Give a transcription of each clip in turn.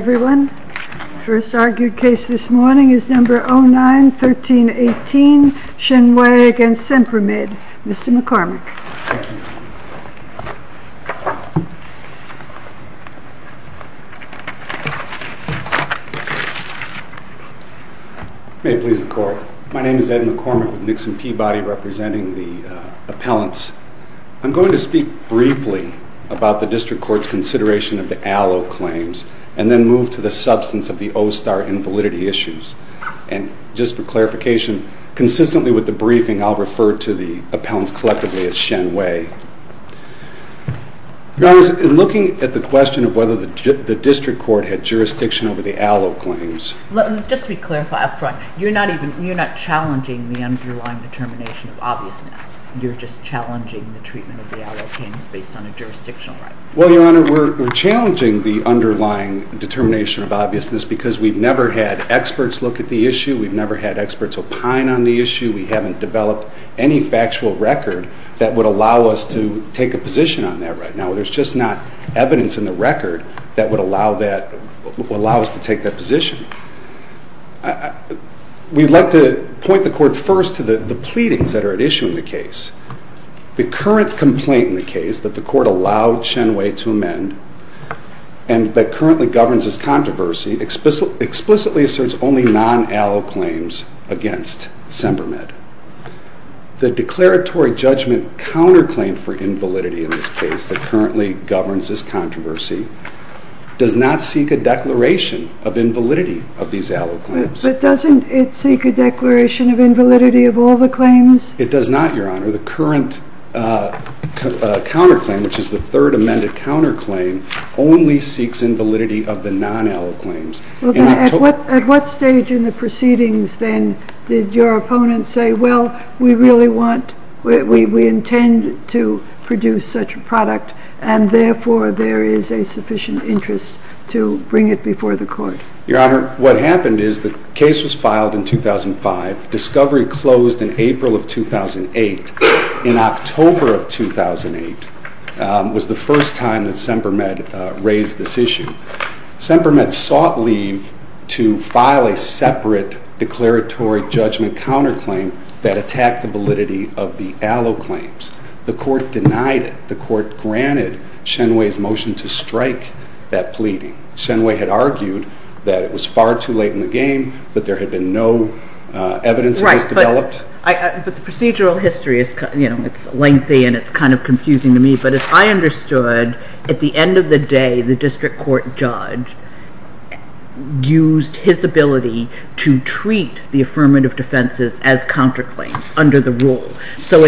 Hello everyone. The first argued case this morning is No. 09-1318, Shen Wei v. Sempermed. Mr. McCormick. May it please the Court. My name is Ed McCormick with Nixon Peabody representing the appellants. I'm going to speak briefly about the District Court's consideration of the Allo claims and then move to the substance of the OSTAR invalidity issues. And just for clarification, consistently with the briefing I'll refer to the appellants collectively as Shen Wei. Your Honor, in looking at the question of whether the District Court had jurisdiction over the Allo claims... Well, Your Honor, we're challenging the underlying determination of obviousness because we've never had experts look at the issue. We've never had experts opine on the issue. We haven't developed any factual record that would allow us to take a position on that right now. There's just not evidence in the record that would allow us to take that position. We'd like to point the Court first to the pleadings that are at issue in the case. The current complaint in the case that the Court allowed Shen Wei to amend and that currently governs this controversy explicitly asserts only non-Allo claims against Sempermed. The declaratory judgment counterclaim for invalidity in this case that currently governs this controversy does not seek a declaration of invalidity of these Allo claims. But doesn't it seek a declaration of invalidity of all the claims? It does not, Your Honor. The current counterclaim, which is the third amended counterclaim, only seeks invalidity of the non-Allo claims. At what stage in the proceedings, then, did your opponents say, Well, we intend to produce such a product, and therefore there is a sufficient interest to bring it before the Court? Your Honor, what happened is the case was filed in 2005. Discovery closed in April of 2008. In October of 2008 was the first time that Sempermed raised this issue. Sempermed sought leave to file a separate declaratory judgment counterclaim that attacked the validity of the Allo claims. The Court denied it. The Court granted Shen Wei's motion to strike that pleading. Shen Wei had argued that it was far too late in the game, that there had been no evidence of this developed. But the procedural history is lengthy, and it's kind of confusing to me. But as I understood, at the end of the day, the district court judge used his ability to treat the affirmative defenses as counterclaims under the rule. So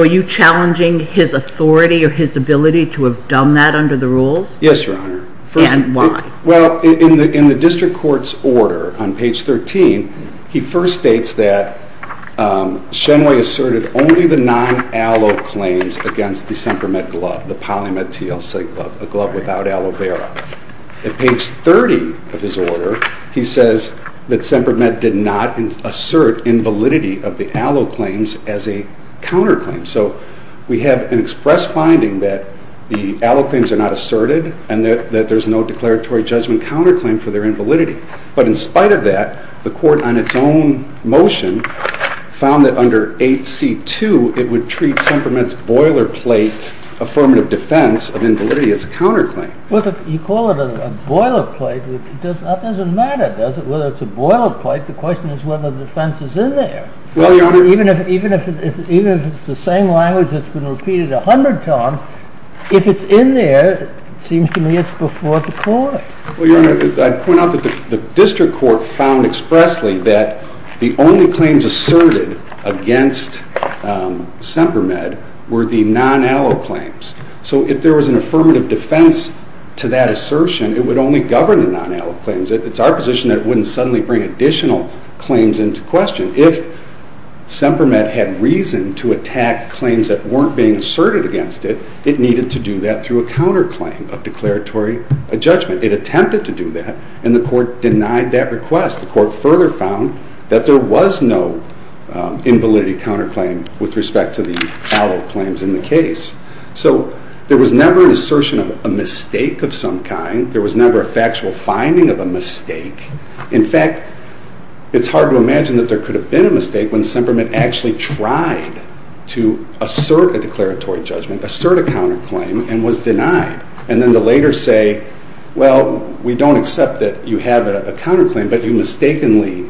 are you challenging his authority or his ability to have done that under the rules? Yes, Your Honor. And why? Well, in the district court's order on page 13, he first states that Shen Wei asserted only the non-Allo claims against the Sempermed glove, the Polymed TLC glove, a glove without aloe vera. At page 30 of his order, he says that Sempermed did not assert invalidity of the Allo claims as a counterclaim. So we have an express finding that the Allo claims are not asserted and that there's no declaratory judgment counterclaim for their invalidity. But in spite of that, the Court, on its own motion, found that under 8c.2, it would treat Sempermed's boilerplate affirmative defense of invalidity as a counterclaim. You call it a boilerplate, which doesn't matter, does it? Whether it's a boilerplate, the question is whether the defense is in there. Well, Your Honor. Even if it's the same language that's been repeated 100 times, if it's in there, it seems to me it's before the court. Well, Your Honor, I'd point out that the district court found expressly that the only claims asserted against Sempermed were the non-Allo claims. So if there was an affirmative defense to that assertion, it would only govern the non-Allo claims. It's our position that it wouldn't suddenly bring additional claims into question. If Sempermed had reason to attack claims that weren't being asserted against it, it needed to do that through a counterclaim of declaratory judgment. It attempted to do that, and the court denied that request. The court further found that there was no invalidity counterclaim with respect to the Allo claims in the case. So there was never an assertion of a mistake of some kind. There was never a factual finding of a mistake. In fact, it's hard to imagine that there could have been a mistake when Sempermed actually tried to assert a declaratory judgment, assert a counterclaim, and was denied. And then the later say, well, we don't accept that you have a counterclaim, but you mistakenly,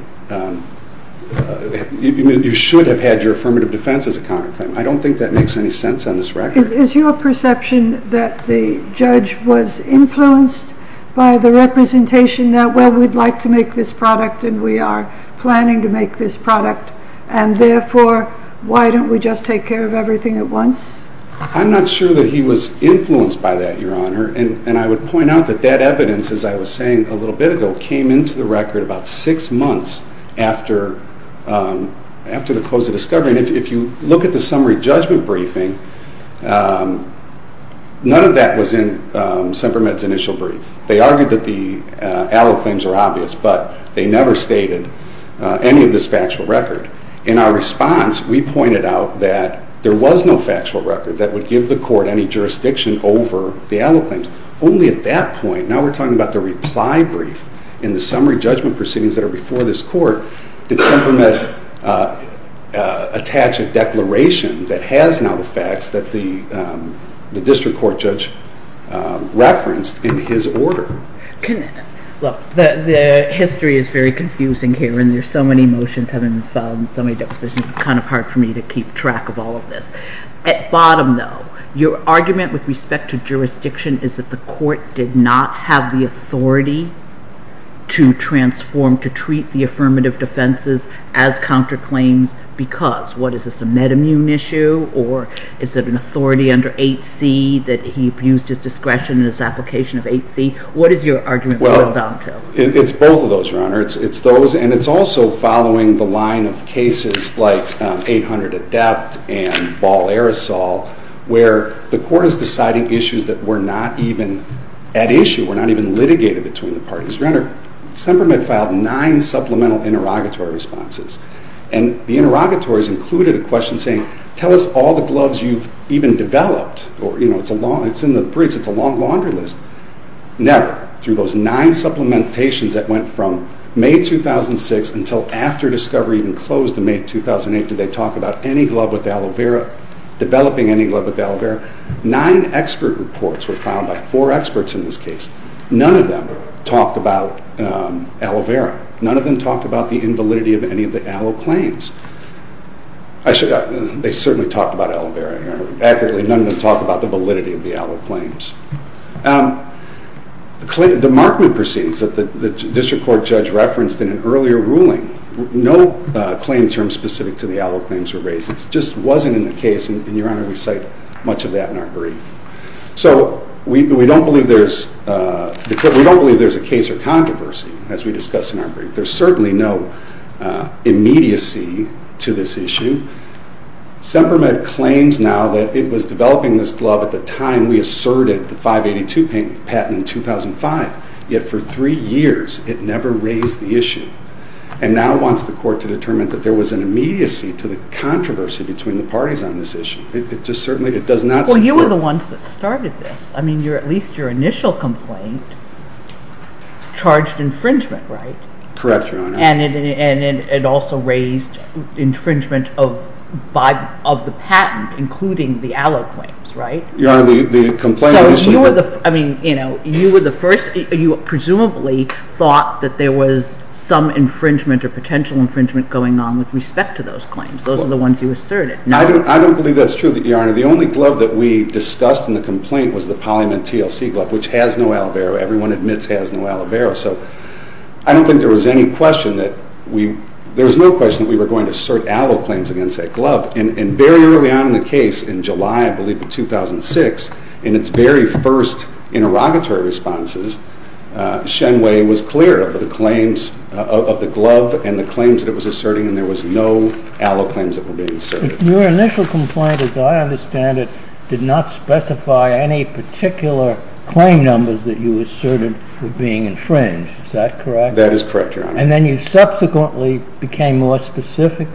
you should have had your affirmative defense as a counterclaim. I don't think that makes any sense on this record. Is your perception that the judge was influenced by the representation that, well, we'd like to make this product, and we are planning to make this product, and therefore, why don't we just take care of everything at once? I'm not sure that he was influenced by that, Your Honor. And I would point out that that evidence, as I was saying a little bit ago, came into the record about six months after the close of discovery. And if you look at the summary judgment briefing, none of that was in Sempermed's initial brief. They argued that the allo claims were obvious, but they never stated any of this factual record. In our response, we pointed out that there was no factual record that would give the court any jurisdiction over the allo claims. Only at that point, now we're talking about the reply brief in the summary judgment proceedings that are before this court, did Sempermed attach a declaration that has now the facts that the district court judge referenced in his order. Look, the history is very confusing here, and there's so many motions having been filed and so many depositions, it's kind of hard for me to keep track of all of this. At bottom, though, your argument with respect to jurisdiction is that the court did not have the authority to transform, to treat the affirmative defenses as counterclaims because. What is this, a med immune issue? Or is it an authority under 8C that he abused his discretion in his application of 8C? What is your argument to that? It's both of those, Your Honor. It's those, and it's also following the line of cases like 800 Adept and Ball Aerosol, where the court is deciding issues that were not even at issue, were not even litigated between the parties. Your Honor, Sempermed filed nine supplemental interrogatory responses, and the interrogatories included a question saying, tell us all the gloves you've even developed. It's in the briefs. It's a long laundry list. Never, through those nine supplementations that went from May 2006 until after discovery even closed in May 2008, did they talk about any glove with aloe vera, developing any glove with aloe vera. Nine expert reports were filed by four experts in this case. None of them talked about aloe vera. None of them talked about the invalidity of any of the aloe claims. Actually, they certainly talked about aloe vera, Your Honor. Accurately, none of them talked about the validity of the aloe claims. The Markman proceedings that the district court judge referenced in an earlier ruling, no claim terms specific to the aloe claims were raised. It just wasn't in the case, and Your Honor, we cite much of that in our brief. So we don't believe there's a case or controversy, as we discuss in our brief. There's certainly no immediacy to this issue. Semper Med claims now that it was developing this glove at the time we asserted the 582 patent in 2005, yet for three years it never raised the issue. And now wants the court to determine that there was an immediacy to the controversy between the parties on this issue. It just certainly does not support it. Well, you were the ones that started this. I mean, at least your initial complaint charged infringement, right? Correct, Your Honor. And it also raised infringement of the patent, including the aloe claims, right? Your Honor, the complaint was super- I mean, you were the first. You presumably thought that there was some infringement or potential infringement going on with respect to those claims. Those are the ones you asserted. I don't believe that's true, Your Honor. The only glove that we discussed in the complaint was the Polymin TLC glove, which has no aloe vera. Everyone admits has no aloe vera. So I don't think there was any question that we- there was no question that we were going to assert aloe claims against that glove. And very early on in the case, in July, I believe, of 2006, in its very first interrogatory responses, Shen Wei was clear of the claims of the glove and the claims that it was asserting, and there was no aloe claims that were being asserted. Your initial complaint, as I understand it, did not specify any particular claim numbers that you asserted were being infringed. Is that correct? That is correct, Your Honor. And then you subsequently became more specific?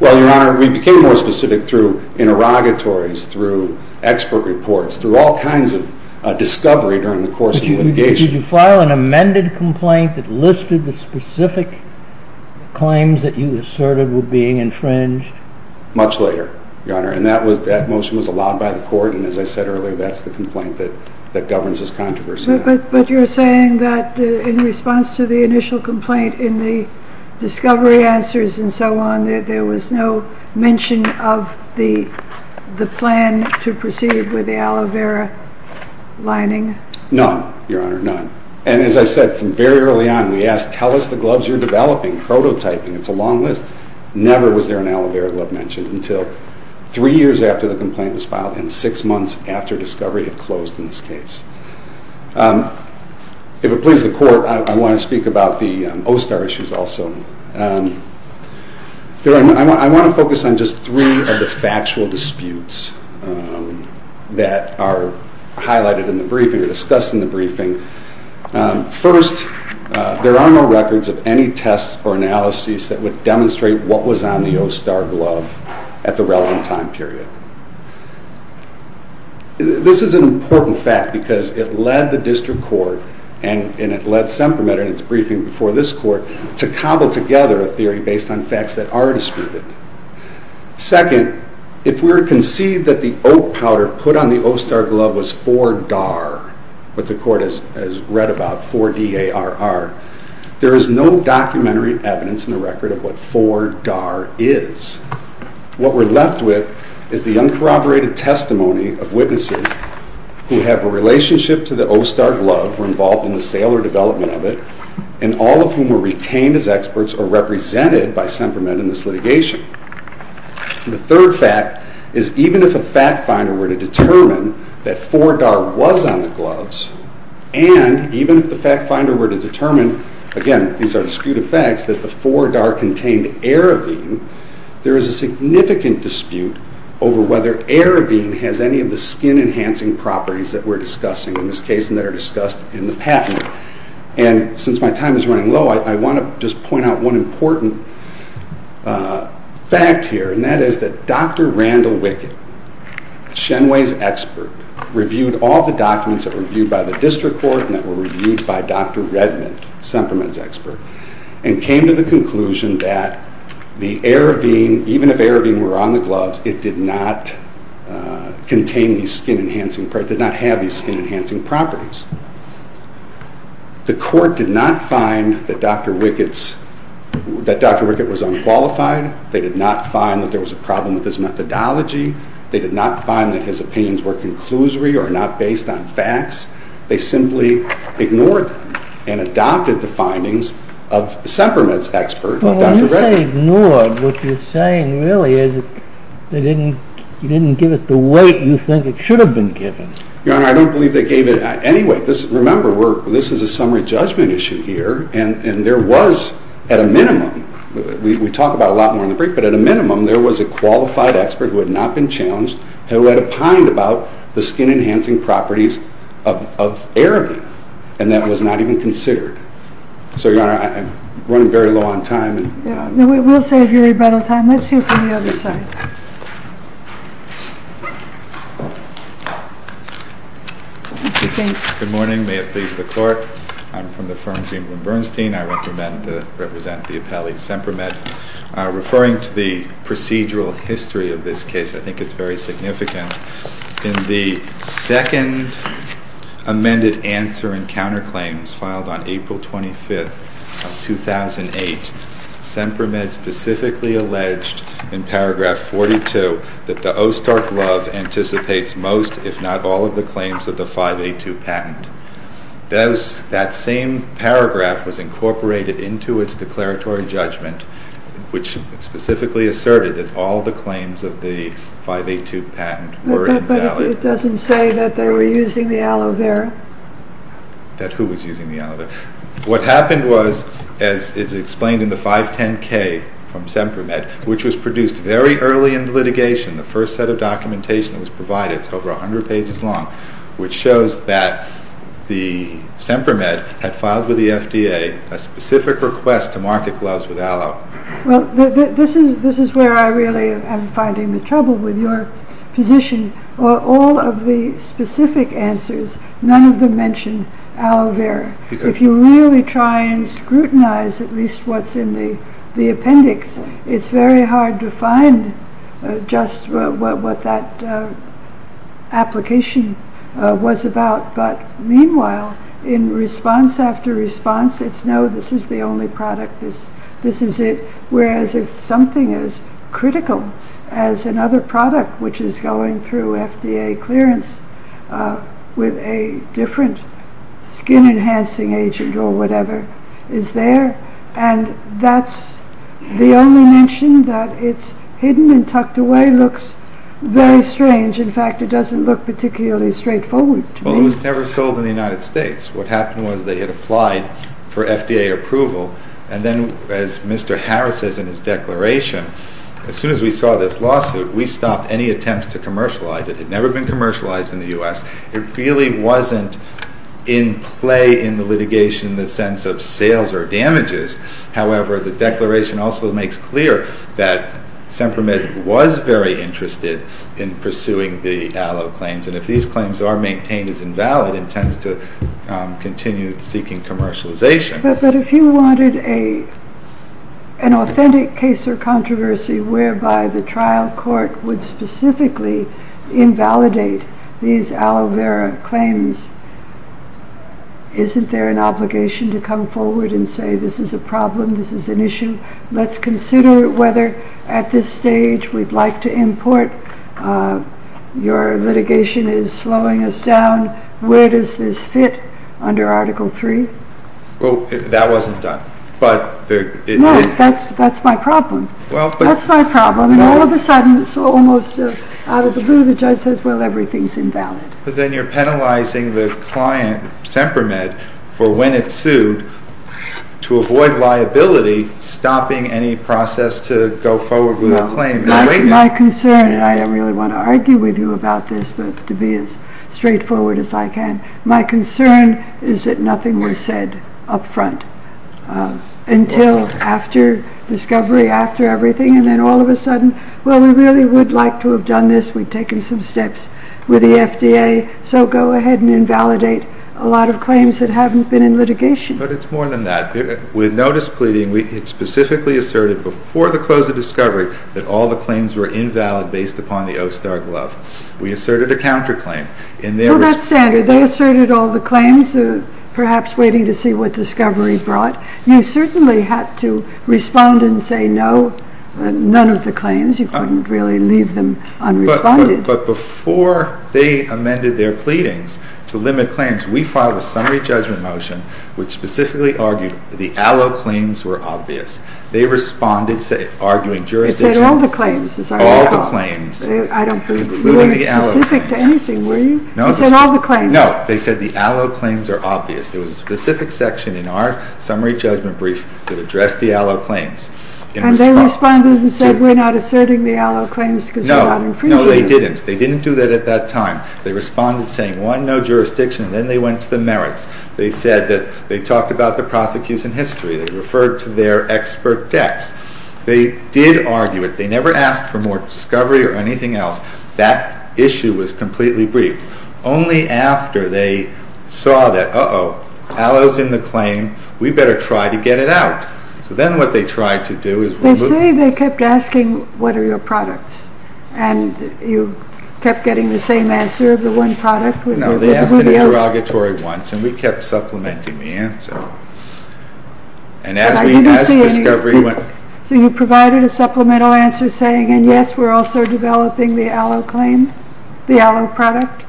Well, Your Honor, we became more specific through interrogatories, through expert reports, through all kinds of discovery during the course of litigation. Did you file an amended complaint that listed the specific claims that you asserted were being infringed? Much later, Your Honor, and that motion was allowed by the court, and as I said earlier, that's the complaint that governs this controversy now. But you're saying that in response to the initial complaint in the discovery answers and so on, there was no mention of the plan to proceed with the aloe vera lining? None, Your Honor, none. And as I said from very early on, we asked, tell us the gloves you're developing, prototyping, it's a long list. Never was there an aloe vera glove mentioned until three years after the complaint was filed and six months after discovery had closed in this case. If it pleases the court, I want to speak about the OSTAR issues also. I want to focus on just three of the factual disputes that are highlighted in the briefing or discussed in the briefing. First, there are no records of any tests or analyses that would demonstrate what was on the OSTAR glove at the relevant time period. This is an important fact because it led the district court, and it led SEMPERMEDER in its briefing before this court, to cobble together a theory based on facts that are disputed. Second, if we were to concede that the oat powder put on the OSTAR glove was 4-DAR, what the court has read about, 4-D-A-R-R, there is no documentary evidence in the record of what 4-DAR is. What we're left with is the uncorroborated testimony of witnesses who have a relationship to the OSTAR glove, were involved in the sale or development of it, and all of whom were retained as experts or represented by SEMPERMED in this litigation. The third fact is, even if a fact finder were to determine that 4-DAR was on the gloves, and even if the fact finder were to determine, again, these are disputed facts, that the 4-DAR contained Aravine, there is a significant dispute over whether Aravine has any of the skin-enhancing properties that we're discussing in this case, and that are discussed in the patent. And since my time is running low, I want to just point out one important fact here, and that is that Dr. Randall Wicket, Shenway's expert, reviewed all the documents that were reviewed by the district court, and that were reviewed by Dr. Redmond, SEMPERMED's expert, and came to the conclusion that the Aravine, even if Aravine were on the gloves, it did not contain these skin-enhancing, it did not have these skin-enhancing properties. The court did not find that Dr. Wicket was unqualified. They did not find that there was a problem with his methodology. They did not find that his opinions were conclusory or not based on facts. They simply ignored them and adopted the findings of SEMPERMED's expert, Dr. Redmond. Well, when you say ignored, what you're saying really is that they didn't give it the weight you think it should have been given. Your Honor, I don't believe they gave it any weight. Remember, this is a summary judgment issue here, and there was, at a minimum, we talk about it a lot more in the brief, but at a minimum, there was a qualified expert who had not been challenged, who had opined about the skin-enhancing properties of Aravine, and that was not even considered. So, Your Honor, I'm running very low on time. We'll save your rebuttal time. Let's hear from the other side. Good morning. May it please the Court. I'm from the firm Greenblum Bernstein. I represent the appellee SEMPERMED. Referring to the procedural history of this case, I think it's very significant. In the second amended answer and counterclaims filed on April 25th of 2008, SEMPERMED specifically alleged in paragraph 42 that the OSTAR glove anticipates most, if not all, of the claims of the 5A2 patent. That same paragraph was incorporated into its declaratory judgment, which specifically asserted that all the claims of the 5A2 patent were invalid. But it doesn't say that they were using the aloe vera. That who was using the aloe vera? What happened was, as is explained in the 510K from SEMPERMED, which was produced very early in the litigation, the first set of documentation that was provided, it's over 100 pages long, which shows that SEMPERMED had filed with the FDA a specific request to market gloves with aloe. Well, this is where I really am finding the trouble with your position. All of the specific answers, none of them mention aloe vera. If you really try and scrutinize at least what's in the appendix, it's very hard to find just what that application was about. But meanwhile, in response after response, it's, no, this is the only product, this is it. Whereas if something as critical as another product, which is going through FDA clearance with a different skin enhancing agent or whatever, is there, and that's the only mention that it's hidden and tucked away looks very strange. In fact, it doesn't look particularly straightforward to me. Well, it was never sold in the United States. What happened was they had applied for FDA approval, and then as Mr. Harris says in his declaration, as soon as we saw this lawsuit, we stopped any attempts to commercialize it. It had never been commercialized in the U.S. It really wasn't in play in the litigation in the sense of sales or damages. However, the declaration also makes clear that SEMPERMED was very interested in pursuing the aloe claims, and if these claims are maintained as invalid, intends to continue seeking commercialization. But if you wanted an authentic case or controversy whereby the trial court would specifically invalidate these aloe vera claims, isn't there an obligation to come forward and say this is a problem, this is an issue? Let's consider whether at this stage we'd like to import. Your litigation is slowing us down. Where does this fit under Article 3? Well, that wasn't done. No, that's my problem. That's my problem. And all of a sudden, it's almost out of the blue. The judge says, well, everything's invalid. But then you're penalizing the client, SEMPERMED, for when it sued to avoid liability, stopping any process to go forward with a claim. My concern, and I don't really want to argue with you about this, but to be as straightforward as I can, my concern is that nothing was said up front until after discovery, after everything, and then all of a sudden, well, we really would like to have done this. We've taken some steps with the FDA, so go ahead and invalidate a lot of claims that haven't been in litigation. But it's more than that. With notice pleading, we specifically asserted before the close of discovery that all the claims were invalid based upon the OSTAR glove. We asserted a counterclaim. Well, that's standard. They asserted all the claims, perhaps waiting to see what discovery brought. You certainly had to respond and say no, none of the claims. You couldn't really leave them unresponded. But before they amended their pleadings to limit claims, we filed a summary judgment motion which specifically argued the ALO claims were obvious. They responded arguing jurisdiction. It said all the claims. All the claims. I don't believe it. You weren't specific to anything, were you? No. It said all the claims. No, they said the ALO claims are obvious. There was a specific section in our summary judgment brief that addressed the ALO claims. And they responded and said we're not asserting the ALO claims because they're not infringing. No, no, they didn't. They didn't do that at that time. They responded saying, one, no jurisdiction, and then they went to the merits. They said that they talked about the prosecution history. They referred to their expert decks. They did argue it. They never asked for more discovery or anything else. That issue was completely briefed. Only after they saw that, uh-oh, ALO's in the claim. We better try to get it out. So then what they tried to do is remove it. They say they kept asking what are your products. And you kept getting the same answer of the one product. No, they asked an interrogatory once, and we kept supplementing the answer. So you provided a supplemental answer saying, and yes, we're also developing the ALO claim, the ALO product?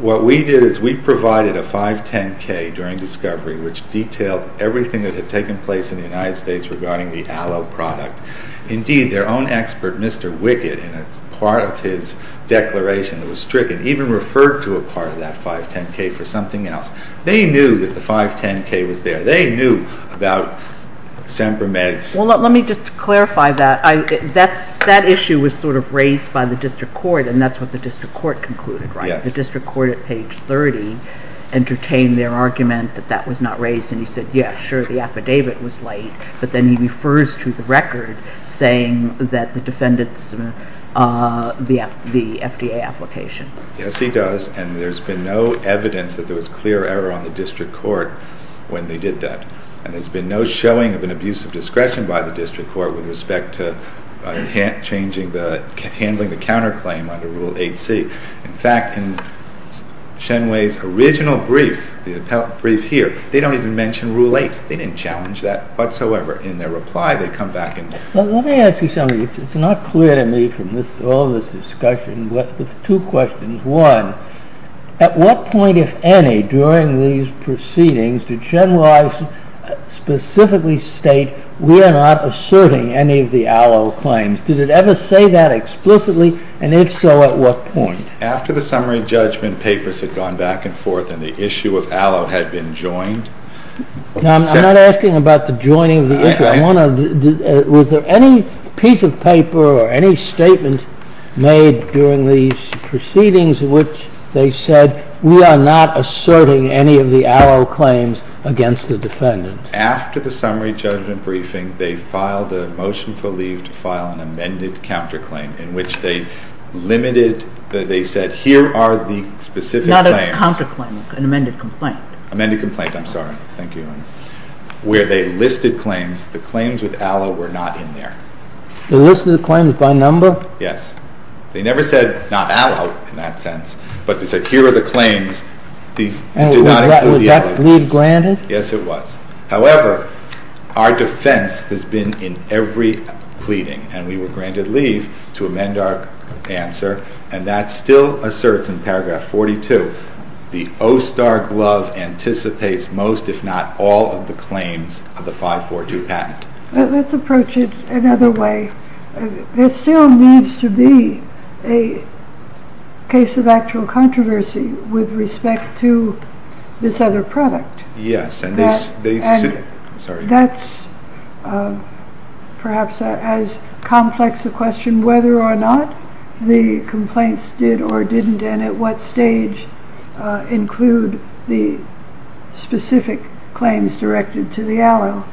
What we did is we provided a 510-K during discovery, which detailed everything that had taken place in the United States regarding the ALO product. Indeed, their own expert, Mr. Wickett, in a part of his declaration that was stricken, even referred to a part of that 510-K for something else. They knew that the 510-K was there. They knew about Sampramed's. Well, let me just clarify that. That issue was sort of raised by the district court, and that's what the district court concluded, right? Yes. The district court at page 30 entertained their argument that that was not raised, and he said, yes, sure, the affidavit was late. But then he refers to the record saying that the defendants, the FDA application. Yes, he does, and there's been no evidence that there was clear error on the district court when they did that. And there's been no showing of an abuse of discretion by the district court with respect to handling the counterclaim under Rule 8C. In fact, in Shen Wei's original brief, the brief here, they don't even mention Rule 8. They didn't challenge that whatsoever. In their reply, they come back and say— Well, let me ask you something. It's not clear to me from all this discussion, but two questions. One, at what point, if any, during these proceedings, did Shen Wei specifically state, we are not asserting any of the Allo claims? Did it ever say that explicitly, and if so, at what point? After the summary judgment, papers had gone back and forth, and the issue of Allo had been joined. Now, I'm not asking about the joining of the issue. I want to—was there any piece of paper or any statement made during these proceedings in which they said, we are not asserting any of the Allo claims against the defendant? After the summary judgment briefing, they filed a motion for leave to file an amended counterclaim in which they limited—they said, here are the specific claims. Not a counterclaim, an amended complaint. Amended complaint, I'm sorry. Thank you. Where they listed claims, the claims with Allo were not in there. They listed the claims by number? Yes. They never said, not Allo, in that sense, but they said, here are the claims. These did not include the Allo claims. Was that leave granted? Yes, it was. However, our defense has been in every pleading, and we were granted leave to amend our answer, and that still asserts in paragraph 42, the OSTAR glove anticipates most, if not all, of the claims of the 542 patent. Let's approach it another way. There still needs to be a case of actual controversy with respect to this other product. Yes. That's perhaps as complex a question, whether or not the complaints did or didn't, and at what stage include the specific claims directed to the Allo.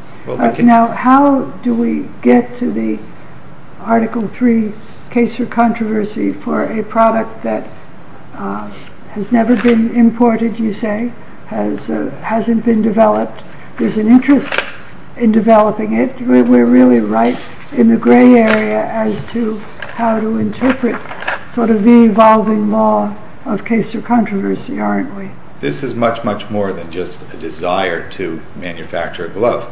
Now, how do we get to the Article III case of controversy for a product that has never been imported, you say, hasn't been developed, there's an interest in developing it. We're really right in the gray area as to how to interpret sort of the evolving law of case of controversy, aren't we? This is much, much more than just a desire to manufacture a glove.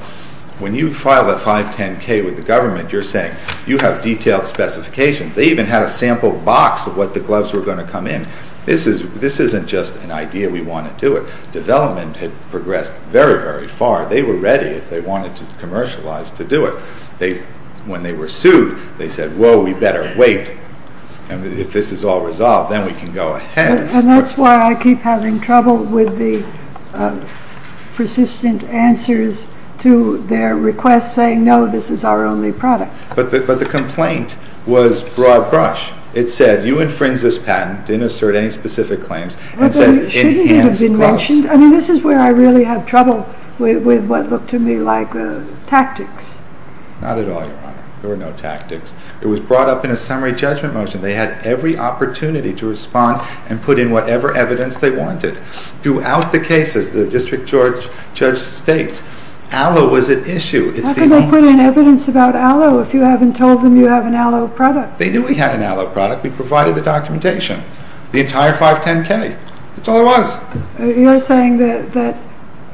When you file a 510-K with the government, you're saying you have detailed specifications. They even had a sample box of what the gloves were going to come in. This isn't just an idea, we want to do it. Development had progressed very, very far. They were ready, if they wanted to commercialize, to do it. When they were sued, they said, whoa, we better wait. If this is all resolved, then we can go ahead. And that's why I keep having trouble with the persistent answers to their requests saying, no, this is our only product. But the complaint was broad-brush. It said, you infringed this patent, didn't assert any specific claims, and said it enhanced gloves. But shouldn't it have been mentioned? I mean, this is where I really have trouble with what looked to me like tactics. Not at all, Your Honor. There were no tactics. It was brought up in a summary judgment motion. They had every opportunity to respond and put in whatever evidence they wanted. Throughout the cases, the district judge states, aloe was at issue. How could they put in evidence about aloe if you haven't told them you have an aloe product? They knew we had an aloe product. We provided the documentation, the entire 510K. That's all there was. You're saying that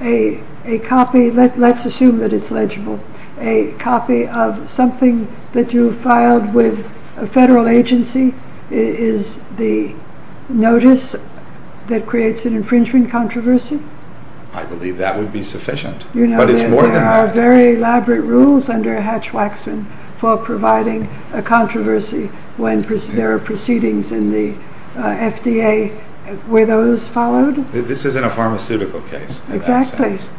a copy, let's assume that it's legible, a copy of something that you filed with a federal agency is the notice that creates an infringement controversy? I believe that would be sufficient. You know, there are very elaborate rules under Hatch-Waxman for providing a controversy when there are proceedings in the FDA where those followed. This isn't a pharmaceutical case, in that sense.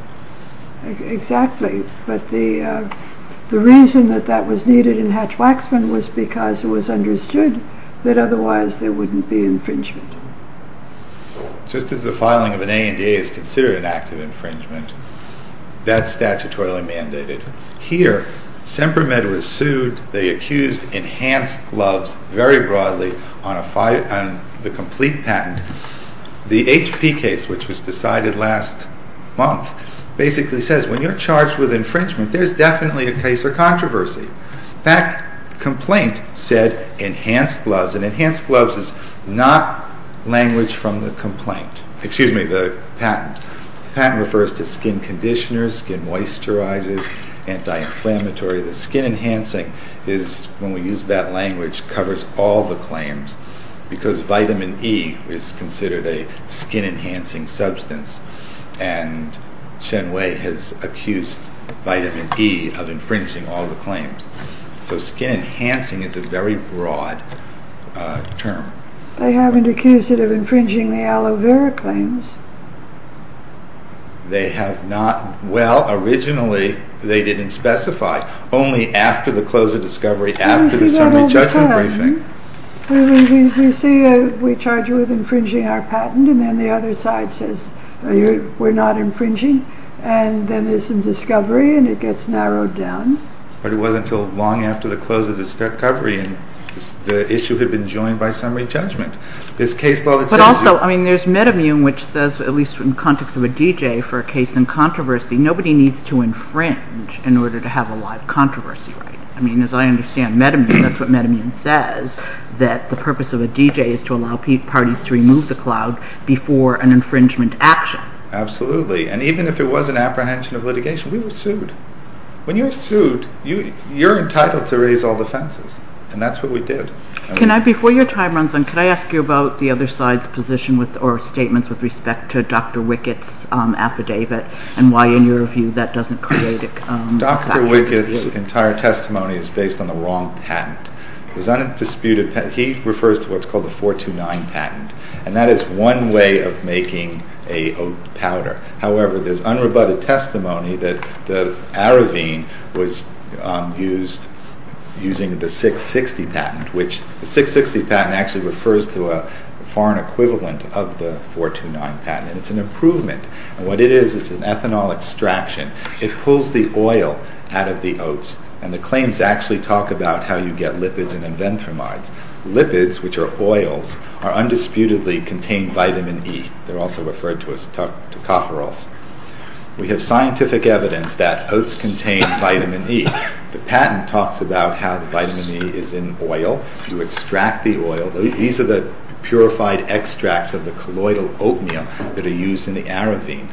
Exactly. But the reason that that was needed in Hatch-Waxman was because it was understood that otherwise there wouldn't be infringement. Just as the filing of an ANDA is considered an act of infringement, that's statutorily mandated. Here, Semper Med was sued. They accused Enhanced Gloves very broadly on the complete patent. The HP case, which was decided last month, basically says when you're charged with infringement, there's definitely a case or controversy. That complaint said Enhanced Gloves, and Enhanced Gloves is not language from the patent. The patent refers to skin conditioners, skin moisturizers, anti-inflammatory. The skin enhancing, when we use that language, covers all the claims because vitamin E is considered a skin enhancing substance. Shen Wei has accused vitamin E of infringing all the claims. So skin enhancing is a very broad term. They haven't accused it of infringing the aloe vera claims. They have not. Well, originally they didn't specify. Only after the close of discovery, after the summary judgment briefing. We see that all the time. Infringing our patent, and then the other side says we're not infringing. Then there's some discovery, and it gets narrowed down. But it wasn't until long after the close of discovery, and the issue had been joined by summary judgment. But also, there's Metamune, which says, at least in the context of a DJ, for a case in controversy, nobody needs to infringe in order to have a live controversy. As I understand Metamune, that's what Metamune says, that the purpose of a DJ is to allow parties to remove the cloud before an infringement action. Absolutely. And even if it was an apprehension of litigation, we were sued. When you're sued, you're entitled to raise all the fences. And that's what we did. Before your time runs out, can I ask you about the other side's position or statements with respect to Dr. Wickett's affidavit, and why, in your view, that doesn't create a factor. Dr. Wickett's entire testimony is based on the wrong patent. He refers to what's called the 429 patent. And that is one way of making a oat powder. However, there's unrebutted testimony that the Aravin was using the 660 patent, which the 660 patent actually refers to a foreign equivalent of the 429 patent. It's an improvement. And what it is, it's an ethanol extraction. It pulls the oil out of the oats. And the claims actually talk about how you get lipids and enventhromides. Lipids, which are oils, are undisputedly contained vitamin E. They're also referred to as tocopherols. We have scientific evidence that oats contain vitamin E. The patent talks about how the vitamin E is in oil. You extract the oil. These are the purified extracts of the colloidal oatmeal that are used in the Aravin.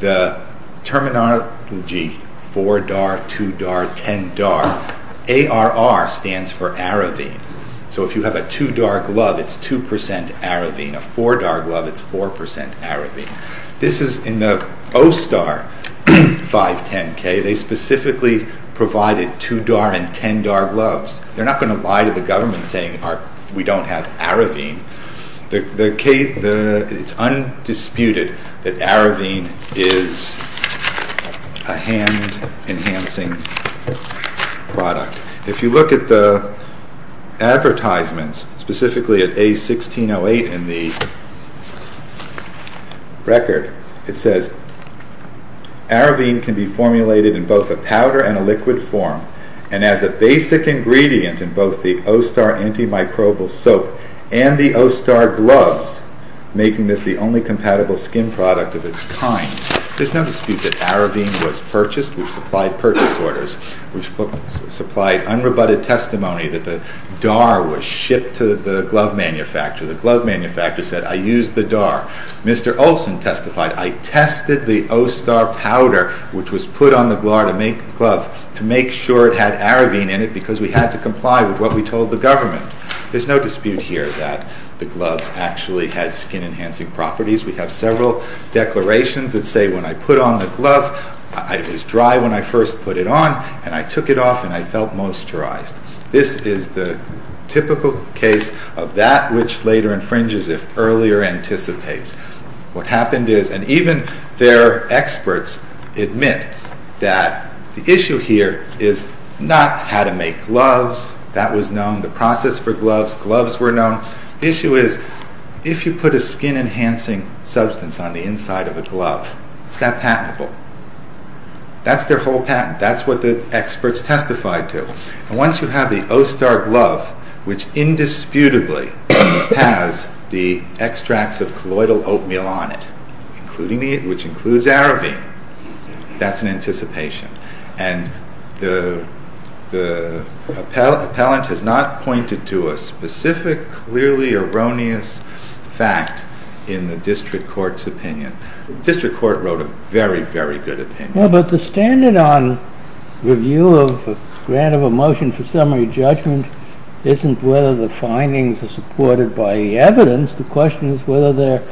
The terminology 4-DAR, 2-DAR, 10-DAR, ARR stands for Aravin. So if you have a 2-DAR glove, it's 2% Aravin. A 4-DAR glove, it's 4% Aravin. This is in the OSTAR 510K. They specifically provided 2-DAR and 10-DAR gloves. They're not going to lie to the government saying we don't have Aravin. It's undisputed that Aravin is a hand-enhancing product. If you look at the advertisements, specifically at A1608 in the record, it says Aravin can be formulated in both a powder and a liquid form and as a basic ingredient in both the OSTAR antimicrobial soap and the OSTAR gloves, making this the only compatible skin product of its kind. There's no dispute that Aravin was purchased. We've supplied purchase orders. We've supplied unrebutted testimony that the DAR was shipped to the glove manufacturer. The glove manufacturer said, I used the DAR. Mr. Olson testified, I tested the OSTAR powder, which was put on the glove to make sure it had Aravin in it because we had to comply with what we told the government. There's no dispute here that the gloves actually had skin-enhancing properties. We have several declarations that say when I put on the glove, it was dry when I first put it on, and I took it off and I felt moisturized. This is the typical case of that which later infringes if earlier anticipates. What happened is, and even their experts admit that the issue here is not how to make gloves. That was known, the process for gloves, gloves were known. The issue is if you put a skin-enhancing substance on the inside of a glove, it's not patentable. That's their whole patent. That's what the experts testified to. Once you have the OSTAR glove, which indisputably has the extracts of colloidal oatmeal on it, which includes Aravin, that's an anticipation. The appellant has not pointed to a specific, clearly erroneous fact in the district court's opinion. The district court wrote a very, very good opinion. But the standard on review of a grant of a motion for summary judgment isn't whether the findings are supported by the evidence. The question is whether there are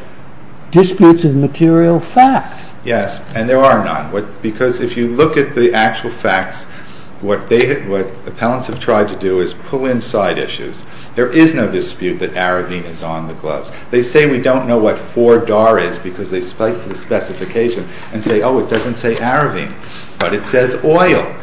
disputes of material facts. Yes, and there are none. Because if you look at the actual facts, what appellants have tried to do is pull in side issues. There is no dispute that Aravin is on the gloves. They say we don't know what 4-DAR is because they spike to the specification and say, oh, it doesn't say Aravin. But it says oil.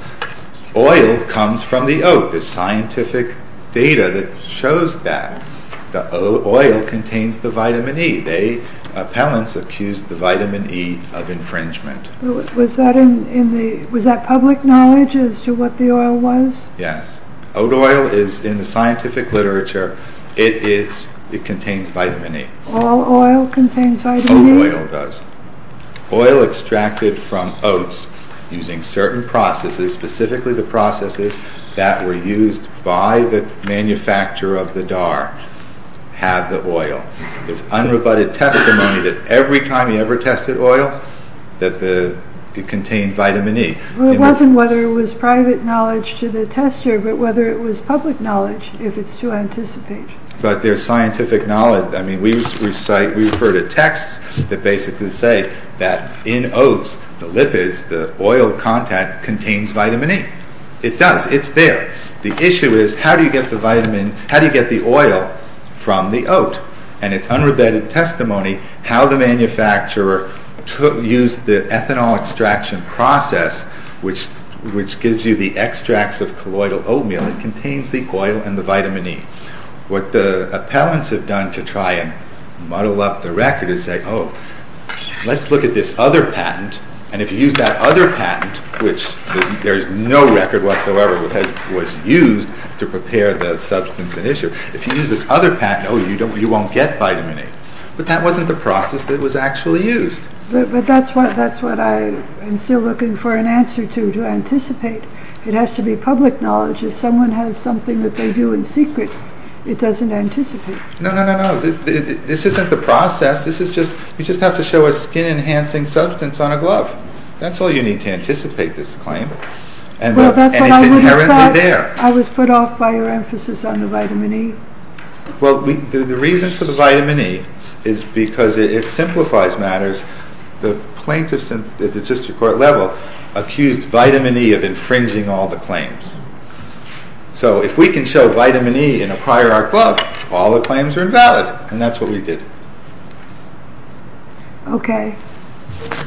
Oil comes from the oat. There's scientific data that shows that. The oil contains the vitamin E. The appellants accused the vitamin E of infringement. Was that public knowledge as to what the oil was? Yes. Oat oil is, in the scientific literature, it contains vitamin E. All oil contains vitamin E? Oat oil does. Oil extracted from oats using certain processes, specifically the processes that were used by the manufacturer of the DAR, had the oil. It's unrebutted testimony that every time he ever tested oil, that it contained vitamin E. It wasn't whether it was private knowledge to the tester, but whether it was public knowledge, if it's to anticipate. But there's scientific knowledge. We refer to texts that basically say that in oats, the lipids, the oil content, contains vitamin E. It does. It's there. The issue is how do you get the oil from the oat? And it's unrebutted testimony how the manufacturer used the ethanol extraction process, which gives you the extracts of colloidal oatmeal. It contains the oil and the vitamin E. What the appellants have done to try and muddle up the record is say, oh, let's look at this other patent. And if you use that other patent, which there is no record whatsoever that was used to prepare the substance and issue, if you use this other patent, oh, you won't get vitamin E. But that wasn't the process that was actually used. But that's what I'm still looking for an answer to, to anticipate. It has to be public knowledge. If someone has something that they do in secret, it doesn't anticipate. No, no, no, no. This isn't the process. You just have to show a skin-enhancing substance on a glove. That's all you need to anticipate this claim. And it's inherently there. I was put off by your emphasis on the vitamin E. Well, the reason for the vitamin E is because it simplifies matters. The plaintiffs at the district court level accused vitamin E of infringing all the claims. So if we can show vitamin E in a prior art glove, all the claims are invalid. And that's what we did. Okay.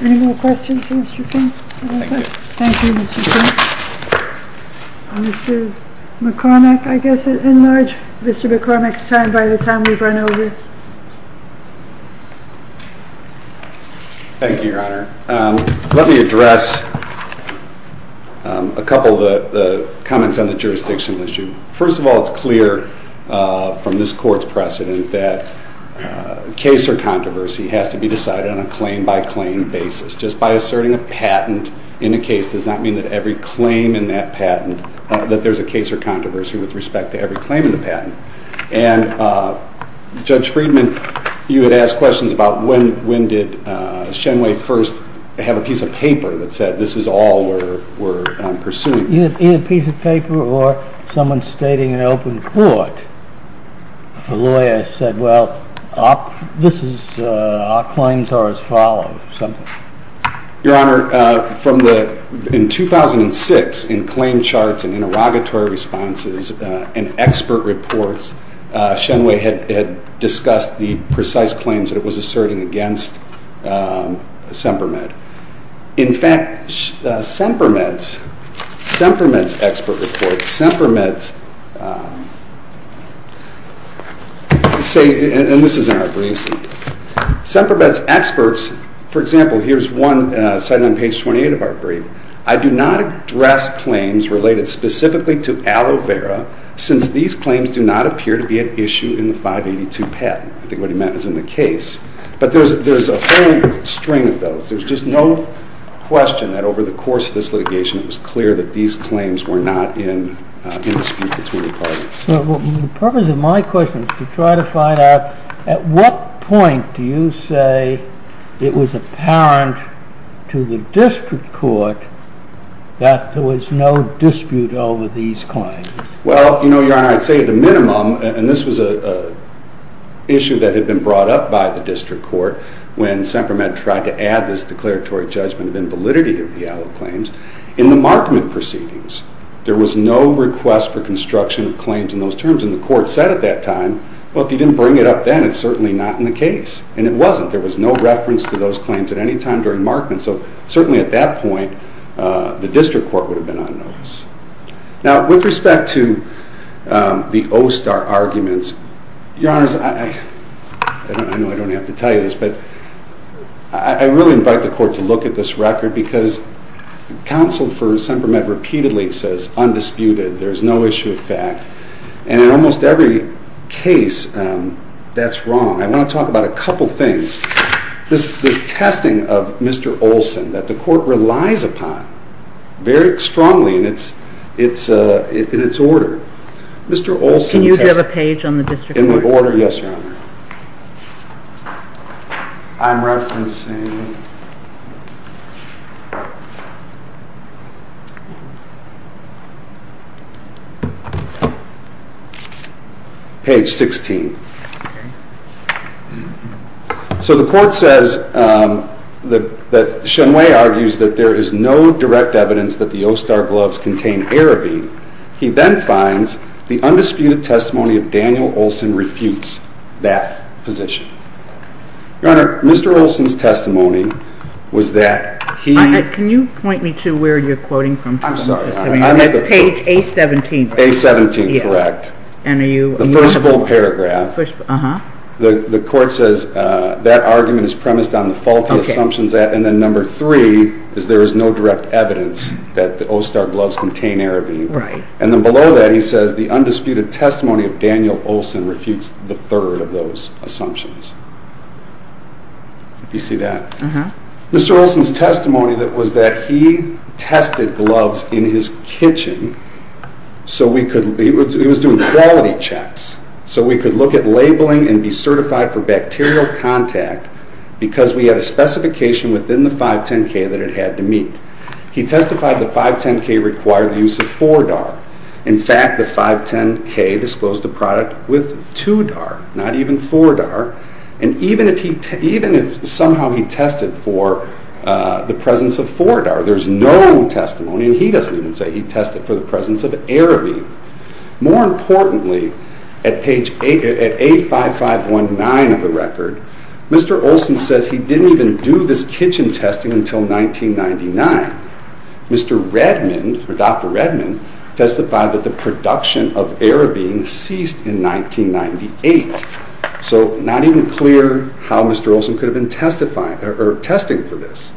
Any more questions for Mr. King? Thank you. Thank you, Mr. King. Mr. McCormack, I guess, in large. Mr. McCormack's time, by the time we've run over. Thank you, Your Honor. Let me address a couple of the comments on the jurisdictional issue. First of all, it's clear from this court's precedent that case or controversy has to be decided on a claim-by-claim basis. Just by asserting a patent in a case does not mean that every claim in that patent, that there's a case or controversy with respect to every claim in the patent. And Judge Friedman, you had asked questions about when did Shenway first have a piece of paper that said, this is all we're pursuing. Either a piece of paper or someone stating an open court. A lawyer said, well, our claims are as follows. Your Honor, in 2006, in claim charts and interrogatory responses and expert reports, Shenway had discussed the precise claims that it was asserting against Semper Med. In fact, Semper Med's expert reports, Semper Med's experts, for example, here's one cited on page 28 of our brief, I do not address claims related specifically to aloe vera, since these claims do not appear to be at issue in the 582 patent. I think what he meant was in the case. But there's a whole string of those. There's just no question that over the course of this litigation, The purpose of my question is to try to find out, at what point do you say it was apparent to the district court that there was no dispute over these claims? Well, Your Honor, I'd say at a minimum, and this was an issue that had been brought up by the district court when Semper Med tried to add this declaratory judgment of invalidity of the aloe claims, in the Markman proceedings, there was no request for construction of claims in those terms. And the court said at that time, well, if you didn't bring it up then, it's certainly not in the case. And it wasn't. There was no reference to those claims at any time during Markman. So certainly at that point, the district court would have been on notice. Now, with respect to the OSTAR arguments, Your Honors, I know I don't have to tell you this, but I really invite the court to look at this record, because counsel for Semper Med repeatedly says, undisputed, there's no issue of fact. And in almost every case, that's wrong. I want to talk about a couple things. This testing of Mr. Olson that the court relies upon very strongly in its order. Can you give a page on the district court? In the order, yes, Your Honor. I'm referencing page 16. So the court says that Shen Wei argues that there is no direct evidence that the OSTAR gloves contain Aravin. He then finds the undisputed testimony of Daniel Olson refutes that position. Your Honor, Mr. Olson's testimony was that he Can you point me to where you're quoting from? I'm sorry. Page A-17. A-17, correct. The first full paragraph. The court says that argument is premised on the faulty assumptions, and then number three is there is no direct evidence that the OSTAR gloves contain Aravin. Right. And then below that he says the undisputed testimony of Daniel Olson refutes the third of those assumptions. Do you see that? Uh-huh. Mr. Olson's testimony was that he tested gloves in his kitchen so we could, he was doing quality checks, so we could look at labeling and be certified for bacterial contact because we had a specification within the 510-K that it had to meet. He testified the 510-K required the use of 4-DAR. In fact, the 510-K disclosed a product with 2-DAR, not even 4-DAR, and even if somehow he tested for the presence of 4-DAR, there's no testimony, and he doesn't even say he tested for the presence of Aravin. More importantly, at page 85519 of the record, Mr. Olson says he didn't even do this kitchen testing until 1999. Mr. Redmond, or Dr. Redmond, testified that the production of Aravin ceased in 1998, so not even clear how Mr. Olson could have been testing for this.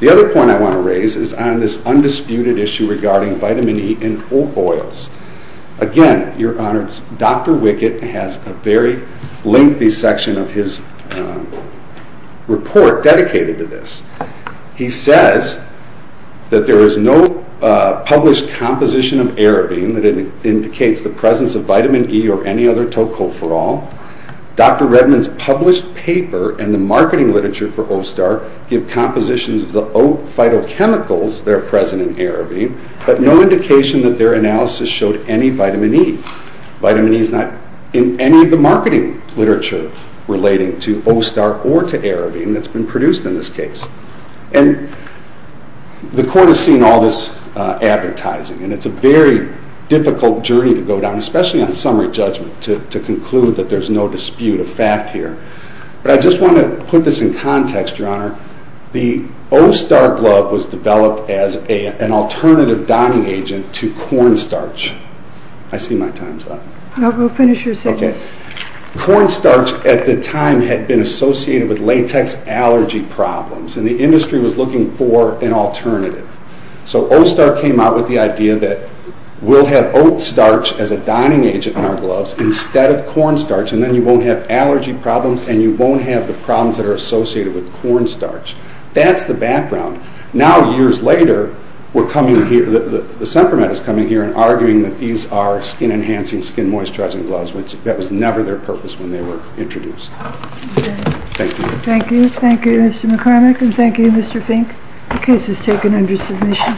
The other point I want to raise is on this undisputed issue regarding vitamin E in oak oils. Again, your honors, Dr. Wickett has a very lengthy section of his report dedicated to this. He says that there is no published composition of Aravin that indicates the presence of vitamin E or any other tocopherol. Dr. Redmond's published paper and the marketing literature for O-STAR give compositions of the oak phytochemicals that are present in Aravin, but no indication that their analysis showed any vitamin E. Vitamin E is not in any of the marketing literature relating to O-STAR or to Aravin that's been produced in this case. And the court has seen all this advertising, and it's a very difficult journey to go down, especially on summary judgment, to conclude that there's no dispute of fact here. But I just want to put this in context, your honor. The O-STAR glove was developed as an alternative dyeing agent to cornstarch. I see my time's up. No, go finish your sentence. Okay. Cornstarch at the time had been associated with latex allergy problems, and the industry was looking for an alternative. So O-STAR came out with the idea that we'll have oat starch as a dyeing agent in our gloves instead of cornstarch, and then you won't have allergy problems, and you won't have the problems that are associated with cornstarch. That's the background. Now, years later, we're coming here, the supplement is coming here and arguing that these are skin-enhancing, skin-moisturizing gloves, which that was never their purpose when they were introduced. Thank you. Thank you. Thank you, Mr. McCormick, and thank you, Mr. Fink. The case is taken under submission.